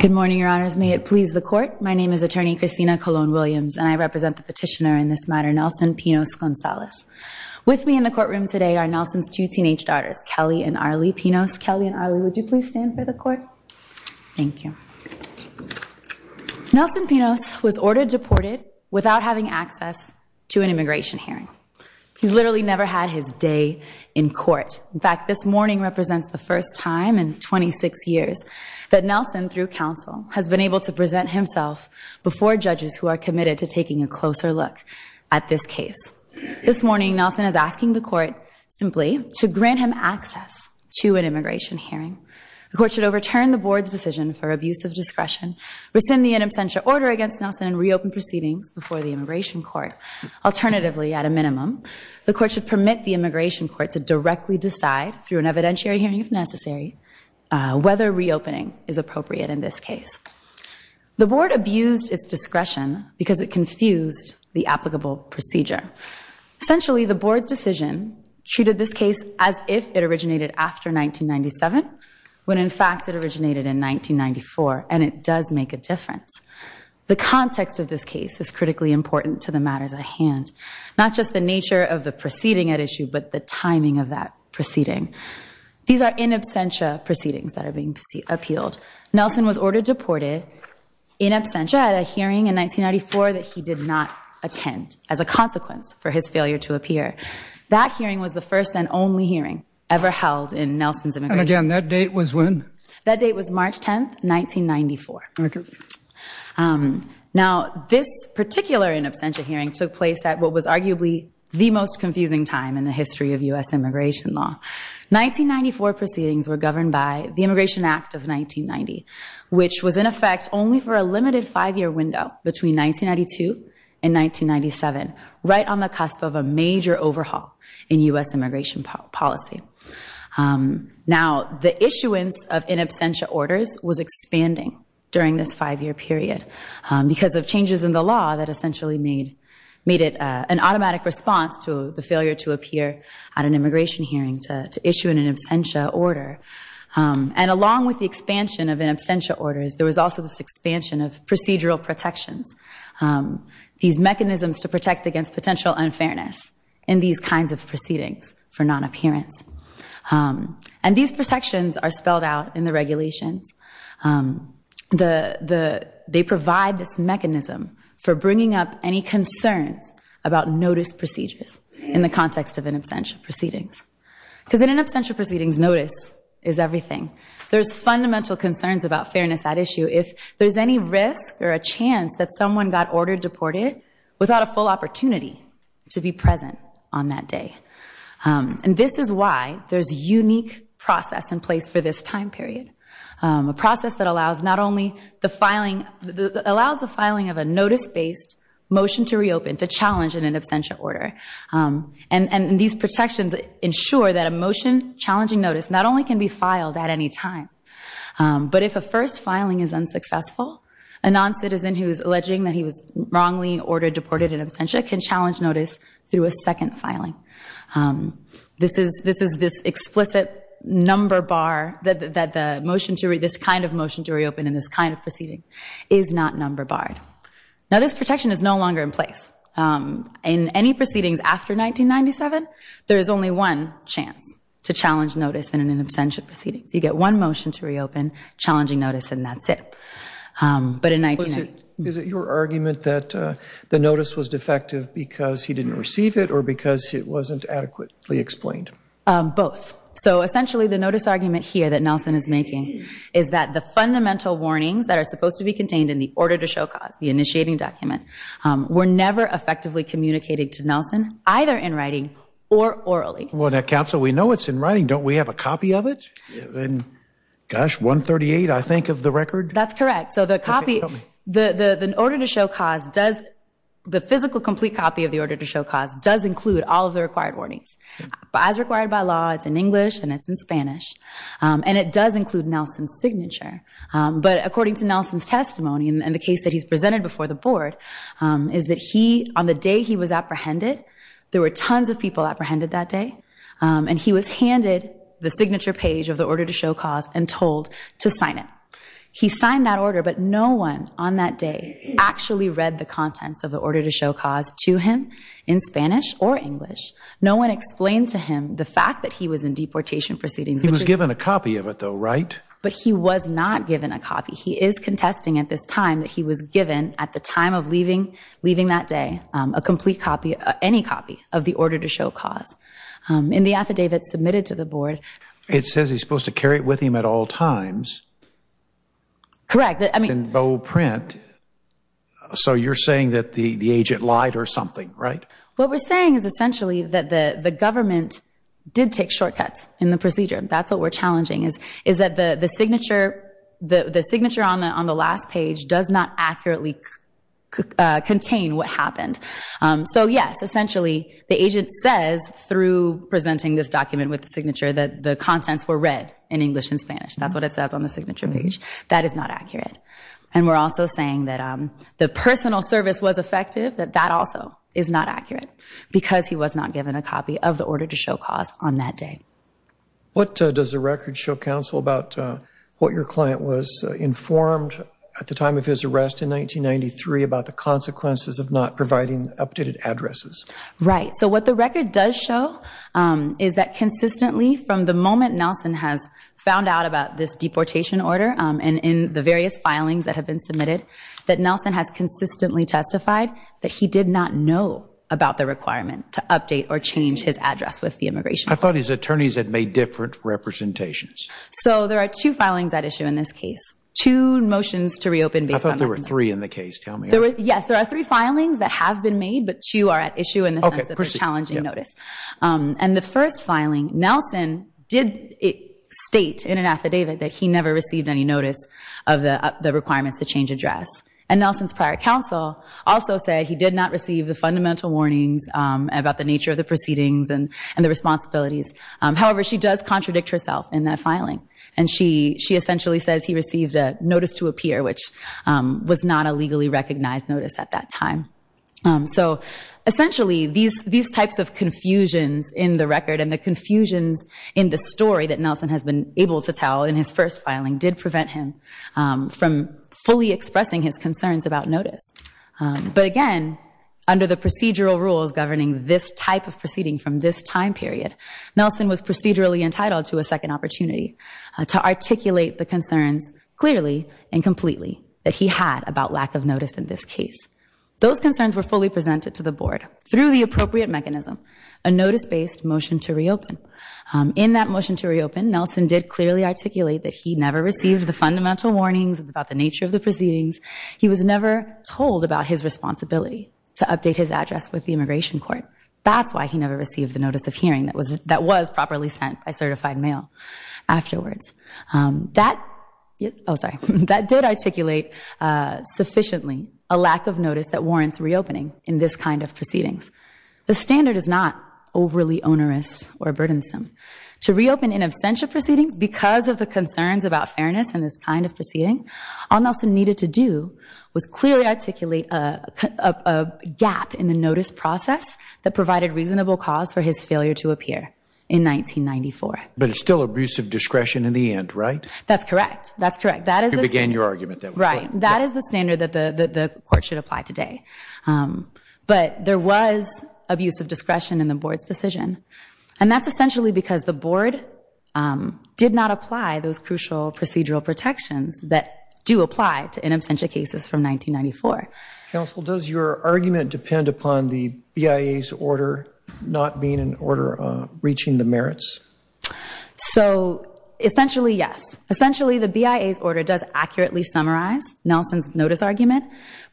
Good morning, your honors. May it please the court. My name is attorney Christina Colon Williams and I represent the petitioner in this matter, Nelson Pinos Gonzalez. With me in the courtroom today are Nelson's two teenage daughters, Kelly and Arlie Pinos. Kelly and Arlie, would you please stand for the court? Thank you. Nelson Pinos was ordered deported without having access to an immigration hearing. He's literally never had his day in court. In fact, this morning represents the first time in 26 years that Nelson, through counsel, has been able to present himself before judges who are committed to taking a closer look at this case. This morning, Nelson is asking the court simply to grant him access to an immigration hearing. The court should overturn the board's decision for abuse of discretion, rescind the in absentia order against Nelson and reopen proceedings before the immigration court. Alternatively, at a minimum, the court should permit the immigration court to directly decide through an evidentiary hearing if necessary, whether reopening is appropriate in this case. The board abused its discretion because it confused the applicable procedure. Essentially, the board's decision treated this case as if it originated after 1997, when in fact it originated in 1994. And it does make a difference. The context of this case is critically important to the matters at hand, not just the nature of the proceeding at issue, but the timing of that proceeding. These are in absentia proceedings that are being appealed. Nelson was ordered deported in absentia at a hearing in 1994 that he did not attend as a consequence for his failure to appear. That hearing was the first and only hearing ever on that date was when? That date was March 10th, 1994. Now, this particular in absentia hearing took place at what was arguably the most confusing time in the history of US immigration law. 1994 proceedings were governed by the Immigration Act of 1990, which was in effect only for a limited five-year window between 1992 and 1997, right on the cusp of a major overhaul in US immigration policy. Now, the issuance of in absentia orders was expanding during this five-year period because of changes in the law that essentially made it an automatic response to the failure to appear at an immigration hearing to issue an in absentia order. And along with the expansion of in absentia orders, there was also this expansion of procedural protections, these mechanisms to protect against potential unfairness in these kinds of proceedings for non-appearance. And these protections are spelled out in the regulations. They provide this mechanism for bringing up any concerns about notice procedures in the context of in absentia proceedings. Because in in absentia proceedings, notice is everything. There's fundamental concerns about fairness at issue. If there's any risk or a chance that someone got ordered deported without a full opportunity to be present on that day. And this is why there's a unique process in place for this time period. A process that allows not only the filing, allows the filing of a notice-based motion to reopen to challenge an in absentia order. And these protections ensure that a motion challenging notice not only can be filed at any time, but if a first filing is unsuccessful, a non-citizen who is alleging that he was wrongly ordered deported in absentia can challenge notice through a second filing. This is this explicit number bar that the motion to, this kind of motion to reopen in this kind of proceeding is not number barred. Now this protection is no longer in place. In any proceedings after 1997, there is only one chance to challenge notice in in absentia proceedings. You get one motion to reopen, challenging notice, and that's it. But in 19- Was it, is it your argument that the notice was defective because he didn't receive it or because it wasn't adequately explained? Both. So essentially the notice argument here that Nelson is making is that the fundamental warnings that are supposed to be contained in the order to show cause, the initiating document, were never effectively communicated to Nelson, either in writing or orally. Well now counsel, we know it's in writing. Don't we have a copy of it? Gosh, 138 I think of the record. That's correct. So the copy, the the the order to show cause does, the physical complete copy of the order to show cause does include all of the required warnings. As required by law, it's in English and it's in Spanish. And it does include Nelson's signature. But according to Nelson's testimony and the case that he's presented before the board, is that he, on the day he was apprehended, there were tons of people apprehended that day. Um, and he was handed the signature page of the order to show cause and told to sign it. He signed that order, but no one on that day actually read the contents of the order to show cause to him in Spanish or English. No one explained to him the fact that he was in deportation proceedings. He was given a copy of it though, right? But he was not given a copy. He is contesting at this time that he was given at the time of leaving, leaving that day, um, a complete copy, any copy of the order to show cause, um, in the affidavit submitted to the board. It says he's supposed to carry it with him at all times. Correct. I mean, bold print. So you're saying that the, the agent lied or something, right? What we're saying is essentially that the, the government did take shortcuts in the procedure. That's what we're challenging is, is that the, the signature, the signature on the, on the last page does not accurately contain what happened. Um, so yes, essentially the agent says through presenting this document with the signature that the contents were read in English and Spanish. That's what it says on the signature page. That is not accurate. And we're also saying that, um, the personal service was effective, that that also is not accurate because he was not given a copy of the order to show cause on that day. What does the record show counsel about what your client was informed at the time of his arrest in 1993 about the consequences of not providing updated addresses? Right. So what the record does show, um, is that consistently from the moment Nelson has found out about this deportation order, um, and in the various filings that have been submitted, that Nelson has consistently testified that he did not know about the requirement to update or change his address with the immigration. I thought his attorneys had made different representations. So there are two filings at issue in this case, two motions to reopen based on there were three in the case. Tell me, yes, there are three filings that have been made, but two are at issue in the sense of challenging notice. Um, and the first filing Nelson did state in an affidavit that he never received any notice of the requirements to change address. And now since prior counsel also said he did not receive the fundamental warnings, um, about the nature of the proceedings and the responsibilities. Um, however, she does contradict herself in that filing and she, she essentially says he received a notice to appear, which, um, was not a legally recognized notice at that time. Um, so essentially these, these types of confusions in the record and the confusions in the story that Nelson has been able to tell in his first filing did prevent him, um, from fully expressing his this type of proceeding from this time period, Nelson was procedurally entitled to a second opportunity to articulate the concerns clearly and completely that he had about lack of notice in this case. Those concerns were fully presented to the board through the appropriate mechanism, a notice based motion to reopen. Um, in that motion to reopen, Nelson did clearly articulate that he never received the fundamental warnings about the nature of the proceedings. He was immigration court. That's why he never received the notice of hearing that was, that was properly sent by certified mail afterwards. Um, that, Oh, sorry. That did articulate, uh, sufficiently a lack of notice that warrants reopening in this kind of proceedings. The standard is not overly onerous or burdensome to reopen in absentia proceedings because of the concerns about fairness and this kind of proceeding on Nelson needed to do was clearly articulate a gap in the notice process that provided reasonable cause for his failure to appear in 1994. But it's still abuse of discretion in the end, right? That's correct. That's correct. That is, again, your argument that, right, that is the standard that the court should apply today. Um, but there was abuse of discretion in the board's decision and that's essentially because the board, um, did not apply those crucial procedural protections that do apply to in absentia cases from 1994. Counsel, does your argument depend upon the BIA's order not being an order, uh, reaching the merits? So essentially, yes. Essentially the BIA's order does accurately summarize Nelson's notice argument,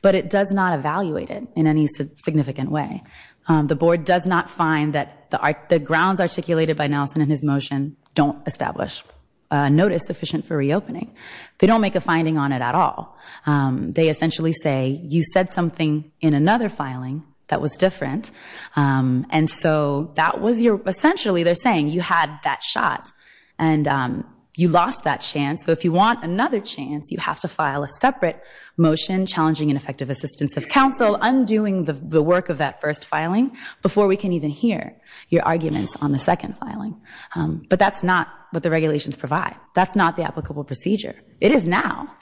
but it does not evaluate it in any significant way. Um, the board does not find that the art, the grounds articulated by Nelson and his motion don't establish a notice sufficient for reopening. They don't make a finding on it at all. Um, they essentially say you said something in another filing that was different. Um, and so that was your, essentially they're saying you had that shot and, um, you lost that chance. So if you want another chance, you have to file a separate motion challenging ineffective assistance of counsel, undoing the work of that first filing before we can even hear your arguments on the second filing. Um, but that's not what the regulations provide. That's not the applicable procedure. It is now.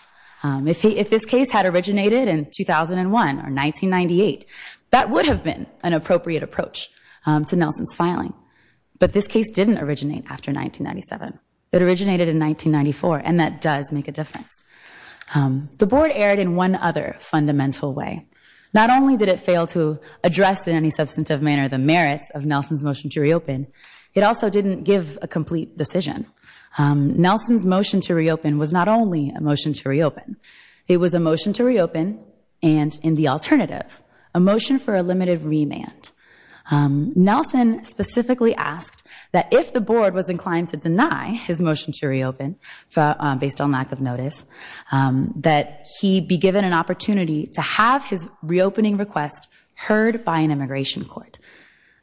Um, if he, if this case had originated in 2001 or 1998, that would have been an appropriate approach, um, to Nelson's filing. But this case didn't originate after 1997. It originated in 1994 and that does make a difference. Um, the board erred in one other fundamental way. Not only did it fail to address in any substantive manner the merits of Nelson's motion to reopen, it also didn't give a complete decision. Um, Nelson's motion to reopen was not only a motion to reopen. It was a motion to reopen and in the alternative, a motion for a limited remand. Um, Nelson specifically asked that if the board was inclined to deny his motion to reopen based on lack of notice, um, that he be given an opportunity to have his reopening request heard by an immigration court.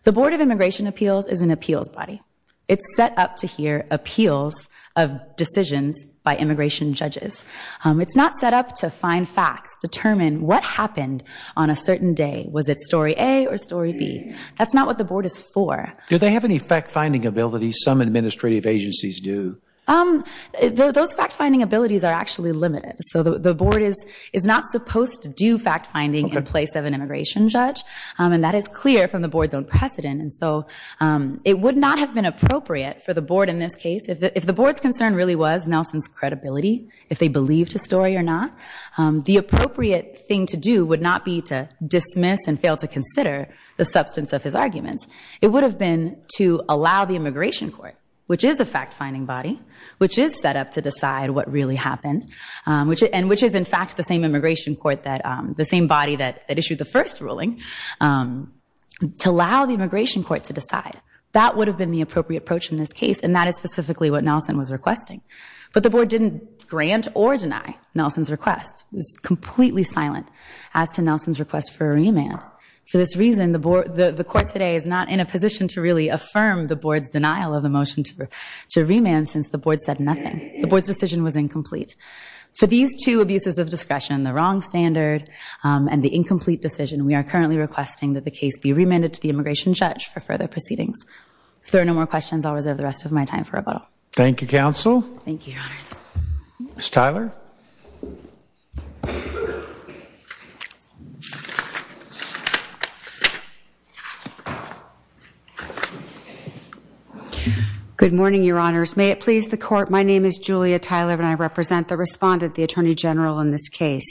The board of immigration appeals is an appeals body. It's set up to hear appeals of decisions by immigration judges. Um, it's not set up to find facts, determine what happened on a certain day. Was it story A or story B? That's not what the board is for. Do they have any fact finding ability? Some administrative agencies do. Um, those fact finding abilities are actually limited. So the board is, is not supposed to do fact finding in place of an immigration judge. Um, and that is clear from the board's own precedent. And so, um, it would not have been appropriate for the board in this case if the, if the board's concern really was Nelson's credibility, if they believed a story or not, um, the appropriate thing to do would not be to dismiss and fail to consider the substance of his arguments. It would have been to allow the immigration court, which is a fact finding body, which is set up to decide what really happened, um, which, and which is in fact the same immigration court that, um, the same body that issued the first ruling, um, to allow the immigration court to decide. That would have been the appropriate approach in this case. And that is specifically what Nelson was requesting. But the board didn't grant or deny Nelson's request. It was completely silent as to Nelson's request for a remand. For this reason, the board, the court today is not in a position to really to remand since the board said nothing. The board's decision was incomplete. For these two abuses of discretion, the wrong standard, um, and the incomplete decision, we are currently requesting that the case be remanded to the immigration judge for further proceedings. If there are no more questions, I'll reserve the rest of my time for rebuttal. Thank you, Good morning, your honors. May it please the court, my name is Julia Tyler and I represent the respondent, the attorney general in this case.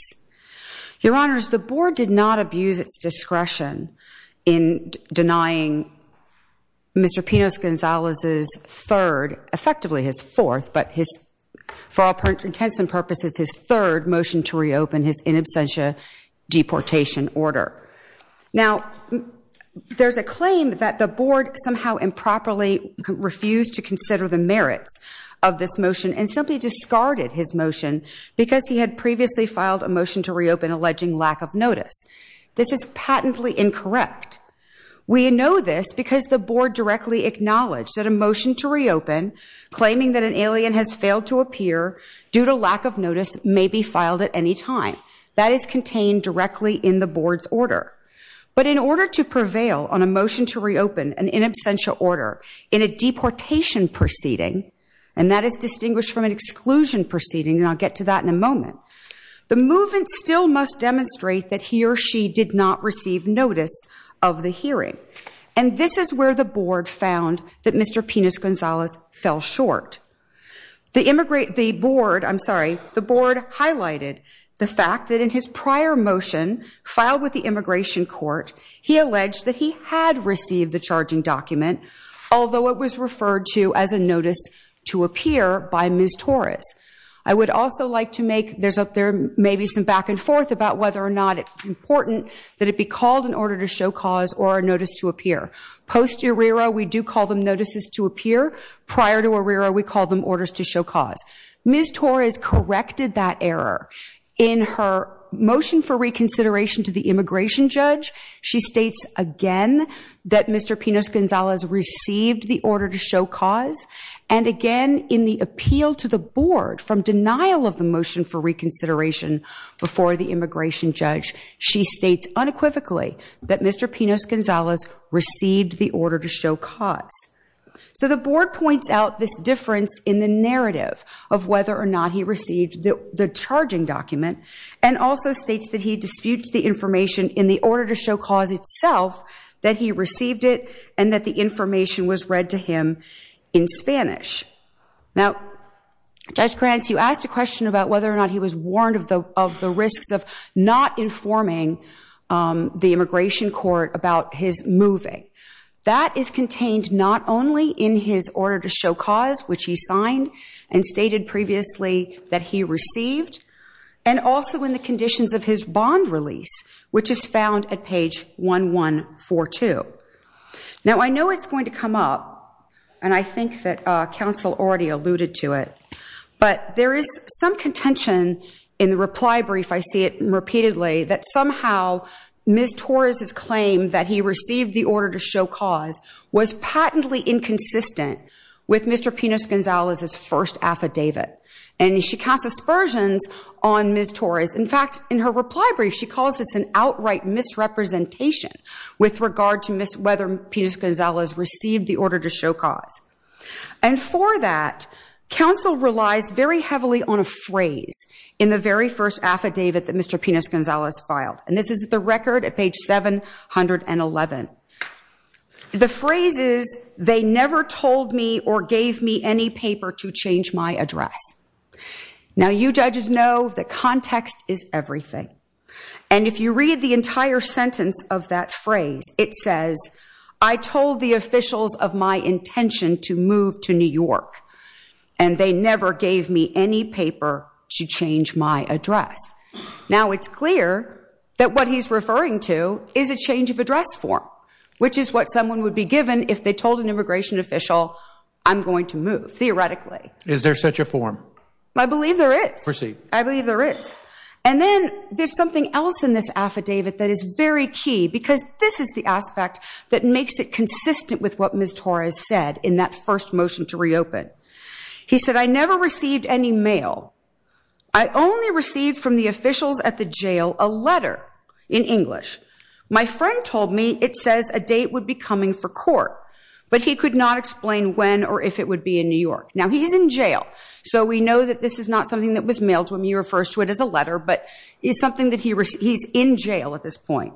Your honors, the board did not abuse its discretion in denying Mr. Pinos Gonzalez's third, effectively his fourth, but his, for all intents and purposes, his third motion to reopen his in absentia deportation order. Now, there's a claim that the board somehow improperly refused to consider the merits of this motion and simply discarded his motion because he had previously filed a motion to reopen alleging lack of notice. This is patently incorrect. We know this because the board directly acknowledged that a motion to reopen, claiming that an alien has failed to appear due to lack of notice, may be filed at any time. That is contained directly in the board's order. But in order to prevail on a motion to reopen an in absentia order in a deportation proceeding, and that is distinguished from an exclusion proceeding, and I'll get to that in a moment, the movement still must demonstrate that he or she did not receive notice of the hearing. And this is where the board found that Mr. Pinos Gonzalez fell short. The board I'm sorry, the board highlighted the fact that in his prior motion filed with the immigration court, he alleged that he had received the charging document, although it was referred to as a notice to appear by Ms. Torres. I would also like to make there's up there maybe some back and forth about whether or not it's important that it be called in order to show cause or a notice to appear. Post-Arrero we do call them notices to appear. Prior to Arrero we call them orders to show cause. Ms. Torres corrected that error in her motion for reconsideration to the immigration judge. She states again that Mr. Pinos Gonzalez received the order to show cause. And again, in the appeal to the board from denial of the motion for reconsideration before the immigration judge, she states unequivocally that Mr. Pinos Gonzalez received the order to show cause. So the board points out this difference in the narrative of whether or not he received the charging document and also states that he disputes the information in the order to show cause itself, that he received it and that the information was read to him in Spanish. Now, Judge Krantz, you asked a question about whether or not he was warned of the risks of not informing the immigration court about his moving. That is contained not only in his order to show cause, which he signed and stated previously that he received, and also in the conditions of his bond release, which is found at page 1142. Now, I know it's going to come up, and I think that counsel already alluded to it, but there is some contention in the reply brief, I see it repeatedly, that somehow Ms. Torres' claim that he received the order to show cause was patently inconsistent with Mr. Pinos Gonzalez's first affidavit. And she cast aspersions on Ms. Torres. In fact, in her reply brief, she calls this an outright misrepresentation with regard to whether Pinos Gonzalez received the order to show cause. And for that, counsel relies very heavily on a phrase in the very first affidavit that Mr. Pinos Gonzalez filed. And this is the record at page 711. The phrase is, they never told me or gave me any paper to change my address. Now, you judges know that context is everything. And if you read the entire sentence of that phrase, it says, I told the officials of my intention to move to New York, and they never gave me any paper to change my address. Now, it's clear that what he's referring to is a change of address form, which is what someone would be given if they told an immigration official, I'm going to move, theoretically. Is there such a form? I believe there is. Proceed. I believe there is. And then there's something else in this affidavit that is very key, because this is the aspect that makes it consistent with what Ms. Torres said in that first motion to reopen. He said, I never received any mail. I only received from the officials at the jail a letter in English. My friend told me it says a date would be coming for court, but he could not explain when or if it would be in New York. Now, he's in jail, so we know that this is not something that was mailed to him. He refers to it as a letter, but it's something that he's in jail at this point.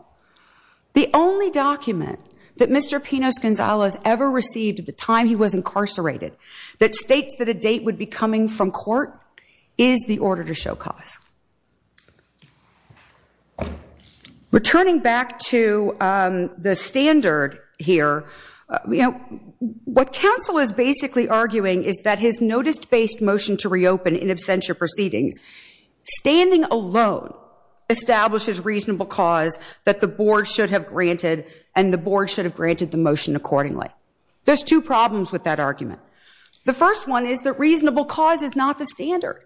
The only document that Mr. Pinos Gonzalez ever received at the time he was incarcerated that states that a date would be coming from court is the order to show cause. Returning back to the standard here, what counsel is basically arguing is that his establishes reasonable cause that the board should have granted, and the board should have granted the motion accordingly. There's two problems with that argument. The first one is that reasonable cause is not the standard.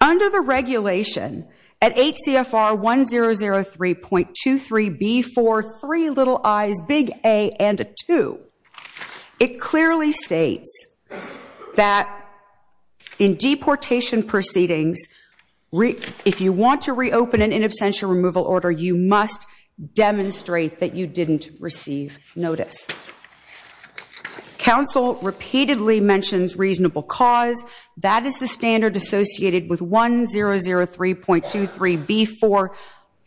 Under the regulation at 8 CFR 1003.23B4, three little I's, big A, and a two, it clearly states that in deportation proceedings, if you want to reopen in an in absentia removal order, you must demonstrate that you didn't receive notice. Counsel repeatedly mentions reasonable cause. That is the standard associated with 1003.23B4,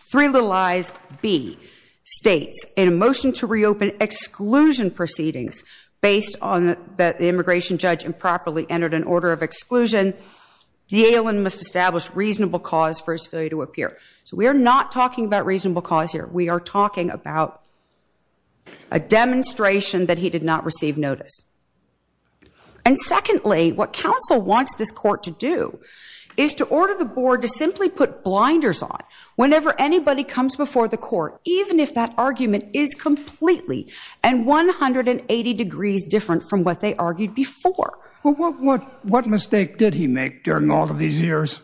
three little I's, B, states in a motion to reopen exclusion proceedings based on that the immigration judge improperly entered an order of exclusion, D'Alene must establish reasonable cause for his failure to appear. So we are not talking about reasonable cause here. We are talking about a demonstration that he did not receive notice. And secondly, what counsel wants this court to do is to order the board to simply put blinders on whenever anybody comes before the court, even if that argument is completely and 180 degrees different from what they argued before. But what mistake did he make during all of these years?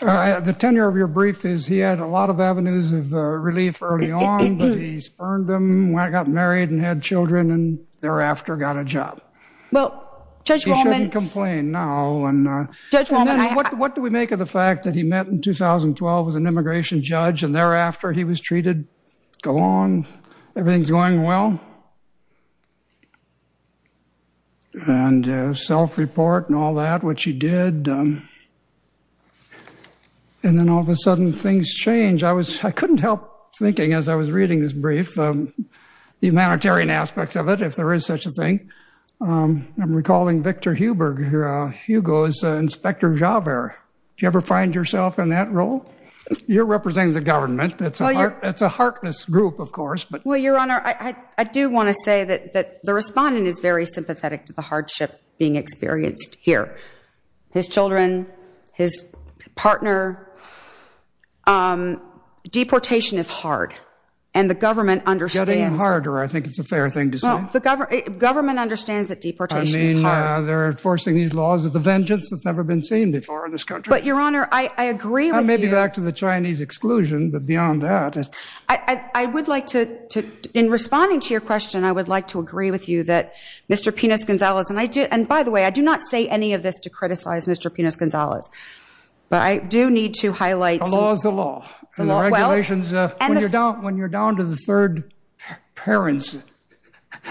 The tenure of your brief is he had a lot of avenues of relief early on, but he spurned them when I got married and had children and thereafter got a job. He shouldn't complain now. And what do we make of the fact that he met in 2012 as an immigration judge and thereafter he was treated, go on, everything's going well. And self-report and all that, which he did. And then all of a sudden things change. I couldn't help thinking as I was reading this brief, the humanitarian aspects of it, if there is such a thing. I'm recalling Victor Huber, Hugo's Inspector Javert. Do you ever find yourself in that role? You're representing the government. It's a heartless group, of course. Well, Your Honor, I do want to say that the respondent is very sympathetic to the hardship being experienced here. His children, his partner. Your Honor, deportation is hard and the government understands... Getting harder, I think it's a fair thing to say. The government understands that deportation is hard. They're enforcing these laws with a vengeance that's never been seen before in this country. But Your Honor, I agree with you... I may be back to the Chinese exclusion, but beyond that... I would like to, in responding to your question, I would like to agree with you that Mr. Pinos Gonzalez, and by the way, I do not say any of this to criticize Mr. Pinos Gonzalez, but I do need to highlight... The law is the law. The regulations... When you're down to the third parents,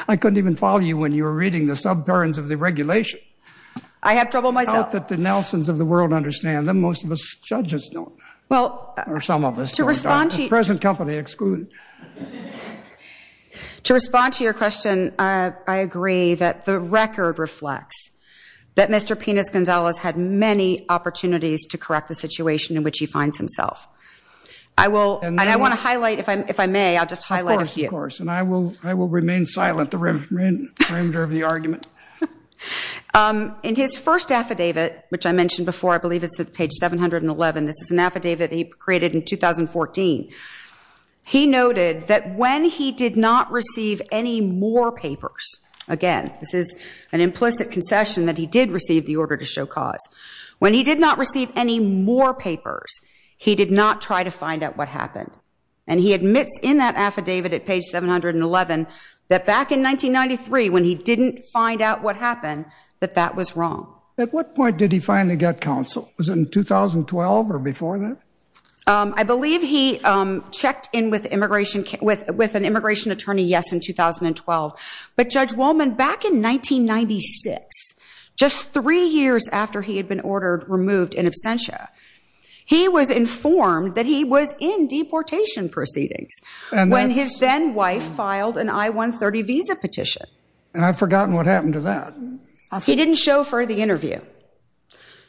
I couldn't even follow you when you were reading the sub-parents of the regulation. I have trouble myself. I doubt that the Nelsons of the world understand them. Most of us judges don't. Well... Or some of us. To respond to... Present company excluded. To respond to your question, I agree that the record reflects that Mr. Pinos Gonzalez had many opportunities to correct the situation in which he finds himself. I will... And I want to highlight, if I may, I'll just highlight a few. Of course, and I will remain silent the perimeter of the argument. In his first affidavit, which I mentioned before, I believe it's at page 711. This is an affidavit he created in 2014. He noted that when he did not receive any more papers... This is an implicit concession that he did receive the order to show cause. When he did not receive any more papers, he did not try to find out what happened. And he admits in that affidavit at page 711, that back in 1993, when he didn't find out what happened, that that was wrong. At what point did he finally get counsel? Was it in 2012 or before that? I believe he checked in with an immigration attorney, yes, in 2012. But Judge Wollman, back in 1996, just three years after he had been ordered removed in absentia, he was informed that he was in deportation proceedings when his then wife filed an I-130 visa petition. And I've forgotten what happened to that. He didn't show for the interview.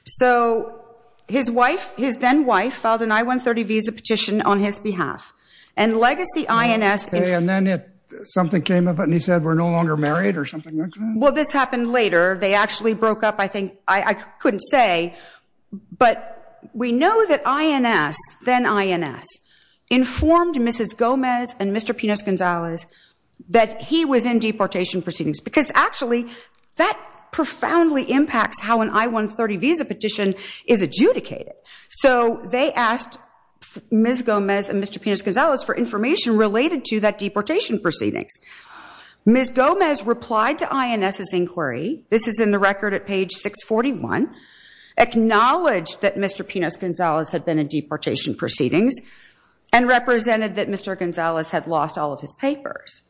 So his wife, his then wife, filed an I-130 visa petition on his behalf. And Legacy INS... Or something like that? Well, this happened later. They actually broke up, I think. I couldn't say. But we know that INS, then INS, informed Mrs. Gomez and Mr. Pinos Gonzalez that he was in deportation proceedings. Because actually, that profoundly impacts how an I-130 visa petition is adjudicated. So they asked Ms. Gomez and Mr. Pinos Gonzalez for information related to that deportation proceedings. Ms. Gomez replied to INS's inquiry. This is in the record at page 641. Acknowledged that Mr. Pinos Gonzalez had been in deportation proceedings and represented that Mr. Gonzalez had lost all of his papers.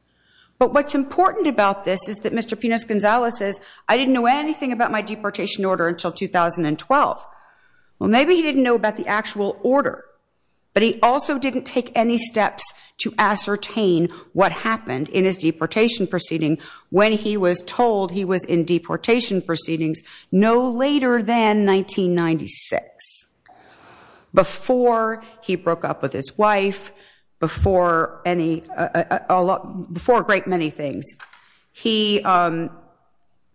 But what's important about this is that Mr. Pinos Gonzalez says, I didn't know anything about my deportation order until 2012. Well, maybe he didn't know about the actual order. But he also didn't take any steps to ascertain what happened in his deportation proceeding when he was told he was in deportation proceedings no later than 1996. Before he broke up with his wife. Before any... Before a great many things. He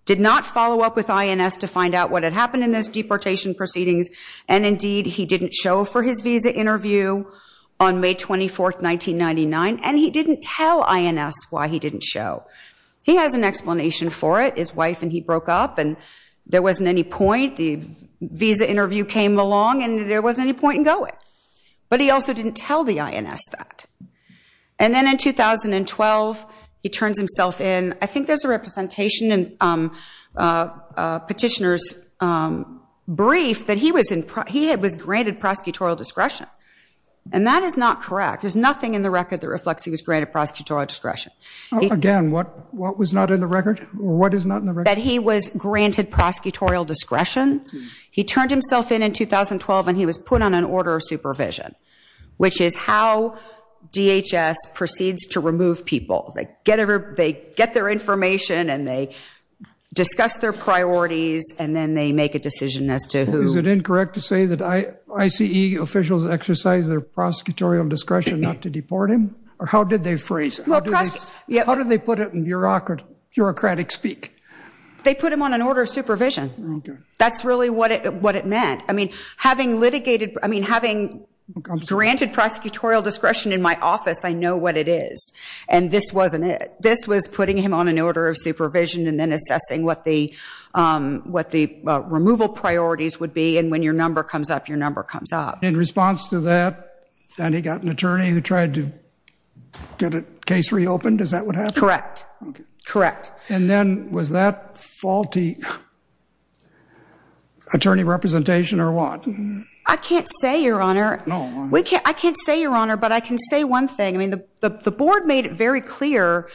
did not follow up with INS to find out what had happened in those deportation proceedings. And indeed, he didn't show for his visa interview on May 24th, 1999. And he didn't tell INS why he didn't show. He has an explanation for it. His wife and he broke up and there wasn't any point. The visa interview came along and there wasn't any point in going. But he also didn't tell the INS that. And then in 2012, he turns himself in. I think there's a representation in petitioner's brief that he was granted prosecutorial discretion. And that is not correct. There's nothing in the record that reflects he was granted prosecutorial discretion. Again, what was not in the record? What is not in the record? That he was granted prosecutorial discretion. He turned himself in in 2012 and he was put on an order of supervision. Which is how DHS proceeds to remove people. They get their information and they discuss their priorities. And then they make a decision as to who... Is it incorrect to say that ICE officials exercise their prosecutorial discretion not to deport him? Or how did they phrase it? How did they put it in bureaucratic speak? They put him on an order of supervision. That's really what it meant. I mean, having litigated... I mean, having granted prosecutorial discretion in my office, I know what it is. And this wasn't it. This was putting him on an order of supervision and then assessing what the removal priorities would be. And when your number comes up, your number comes up. In response to that, and he got an attorney who tried to get a case reopened? Is that what happened? Correct. Correct. And then was that faulty attorney representation or what? I can't say, Your Honor. I can't say, Your Honor. But I can say one thing. The board made it very clear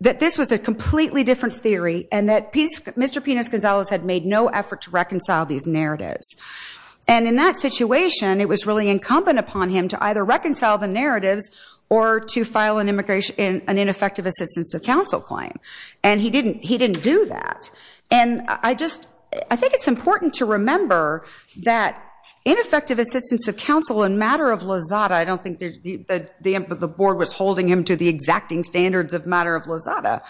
that this was a completely different theory and that Mr. Pinos Gonzalez had made no effort to reconcile these narratives. And in that situation, it was really incumbent upon him to either reconcile the narratives or to file an ineffective assistance of counsel claim. And he didn't do that. And I think it's important to remember that ineffective assistance of counsel in matter of Lozada, I don't think that the board was holding him to the exacting standards of matter of Lozada,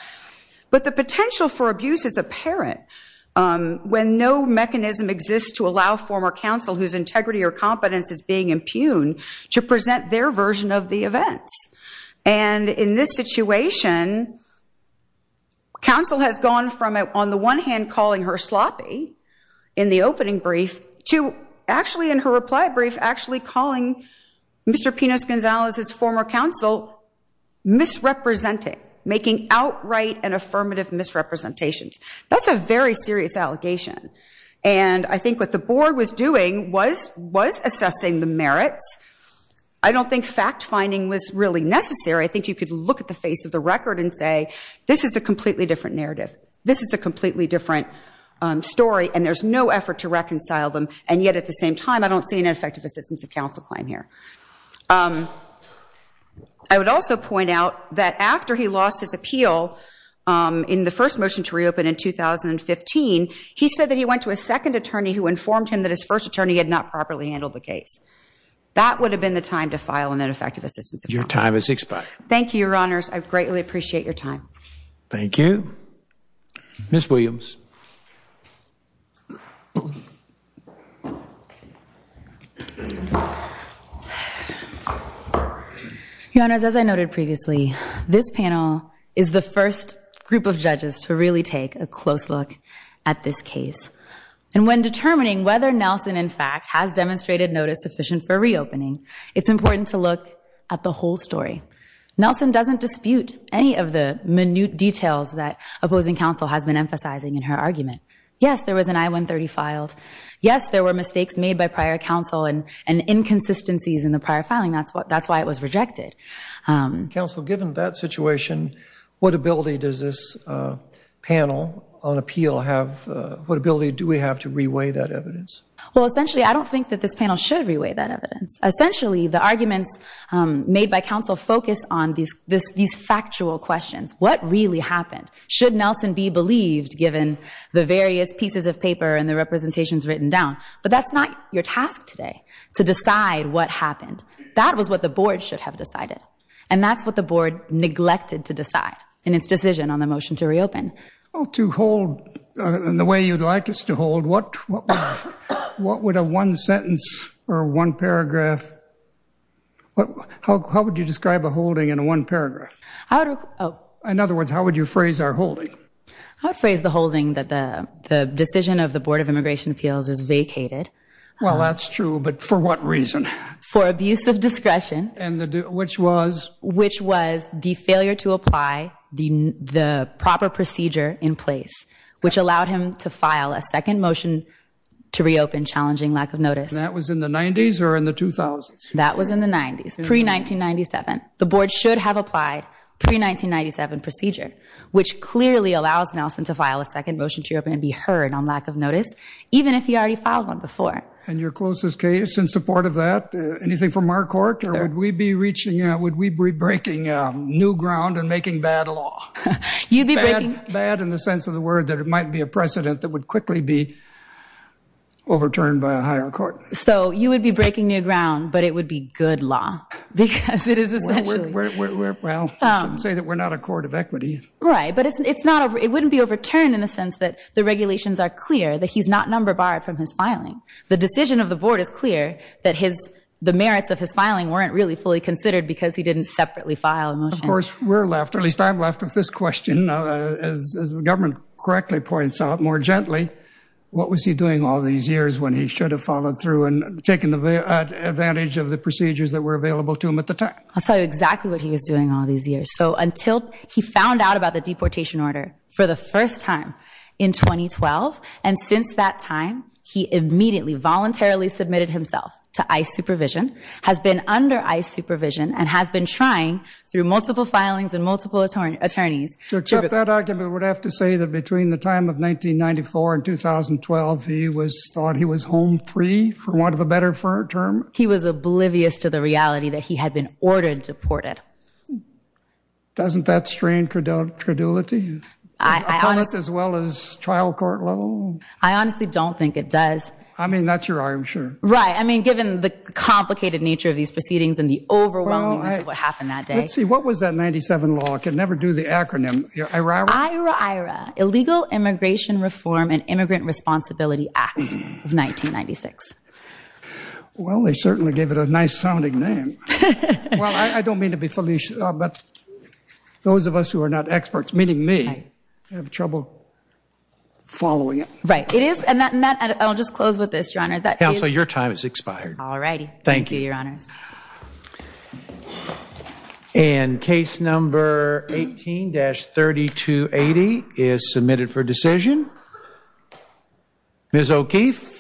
but the potential for abuse is apparent when no mechanism exists to allow former counsel whose integrity or competence is being impugned to present their version of the events. And in this situation, counsel has gone from, on the one hand, calling her sloppy in the Mr. Pinos Gonzalez's former counsel, misrepresenting, making outright and affirmative misrepresentations. That's a very serious allegation. And I think what the board was doing was assessing the merits. I don't think fact-finding was really necessary. I think you could look at the face of the record and say, this is a completely different narrative. This is a completely different story. And there's no effort to reconcile them. And yet, at the same time, I don't see an ineffective assistance of counsel claim here. I would also point out that after he lost his appeal in the first motion to reopen in 2015, he said that he went to a second attorney who informed him that his first attorney had not properly handled the case. That would have been the time to file an ineffective assistance of counsel. Your time has expired. Thank you, Your Honors. I greatly appreciate your time. Thank you. Ms. Williams. Your Honors, as I noted previously, this panel is the first group of judges to really take a close look at this case. And when determining whether Nelson, in fact, has demonstrated notice sufficient for reopening, it's important to look at the whole story. Nelson doesn't dispute any of the minute details that opposing counsel has been emphasizing in her argument. Yes, there was an I-130 filed. Yes, there were mistakes made by prior counsel and inconsistencies in the prior filing. That's why it was rejected. Counsel, given that situation, what ability does this panel on appeal have? What ability do we have to reweigh that evidence? Well, essentially, I don't think that this panel should reweigh that evidence. Essentially, the arguments made by counsel focus on these factual questions. What really happened? Should Nelson be believed, given the various pieces of paper and the representations written down? But that's not your task today, to decide what happened. That was what the board should have decided. And that's what the board neglected to decide in its decision on the motion to reopen. Well, to hold in the way you'd like us to hold, what would a one-sentence or one-paragraph, how would you describe a holding in a one-paragraph? Oh. In other words, how would you phrase our holding? I would phrase the holding that the decision of the Board of Immigration Appeals is vacated. Well, that's true. But for what reason? For abuse of discretion. And which was? Which was the failure to apply the proper procedure in place, which allowed him to file a second motion to reopen, challenging lack of notice. That was in the 90s or in the 2000s? That was in the 90s, pre-1997. The board should have applied pre-1997 procedure, which clearly allows Nelson to file a second motion to reopen and be heard on lack of notice, even if he already filed one before. And your closest case in support of that, anything from our court, or would we be reaching, would we be breaking new ground and making bad law? You'd be breaking... Bad in the sense of the word that it might be a precedent that would quickly be overturned by a higher court. So you would be breaking new ground, but it would be good law, because it is essentially... Well, you can say that we're not a court of equity. Right, but it wouldn't be overturned in the sense that the regulations are clear, that he's not number barred from his filing. The decision of the board is clear, that the merits of his filing weren't really fully considered because he didn't separately file a motion. Of course, we're left, or at least I'm left with this question. As the government correctly points out, more gently, what was he doing all these years when he should have followed through and taken advantage of the procedures that were available to him at the time? I'll tell you exactly what he was doing all these years. So until he found out about the deportation order for the first time in 2012, and since that time, he immediately voluntarily submitted himself to ICE supervision, has been under ICE supervision, and has been trying through multiple filings and multiple attorneys... To accept that argument, I would have to say that between the time of 1994 and 2012, he was thought he was home free, for want of a better term. He was oblivious to the reality that he had been ordered deported. Doesn't that strain credulity? As well as trial court level? I honestly don't think it does. I mean, that's your arm, sure. Right, I mean, given the complicated nature of these proceedings and the overwhelmingness of what happened that day. Let's see, what was that 97 law? I can never do the acronym. IRAIRA. Illegal Immigration Reform and Immigrant Responsibility Act of 1996. Well, they certainly gave it a nice sounding name. Well, I don't mean to be foolish, but those of us who are not experts, meaning me, have trouble following it. Right, it is. And I'll just close with this, Your Honor. Counsel, your time has expired. All righty. Thank you, Your Honors. And case number 18-3280 is submitted for decision. Ms. O'Keefe.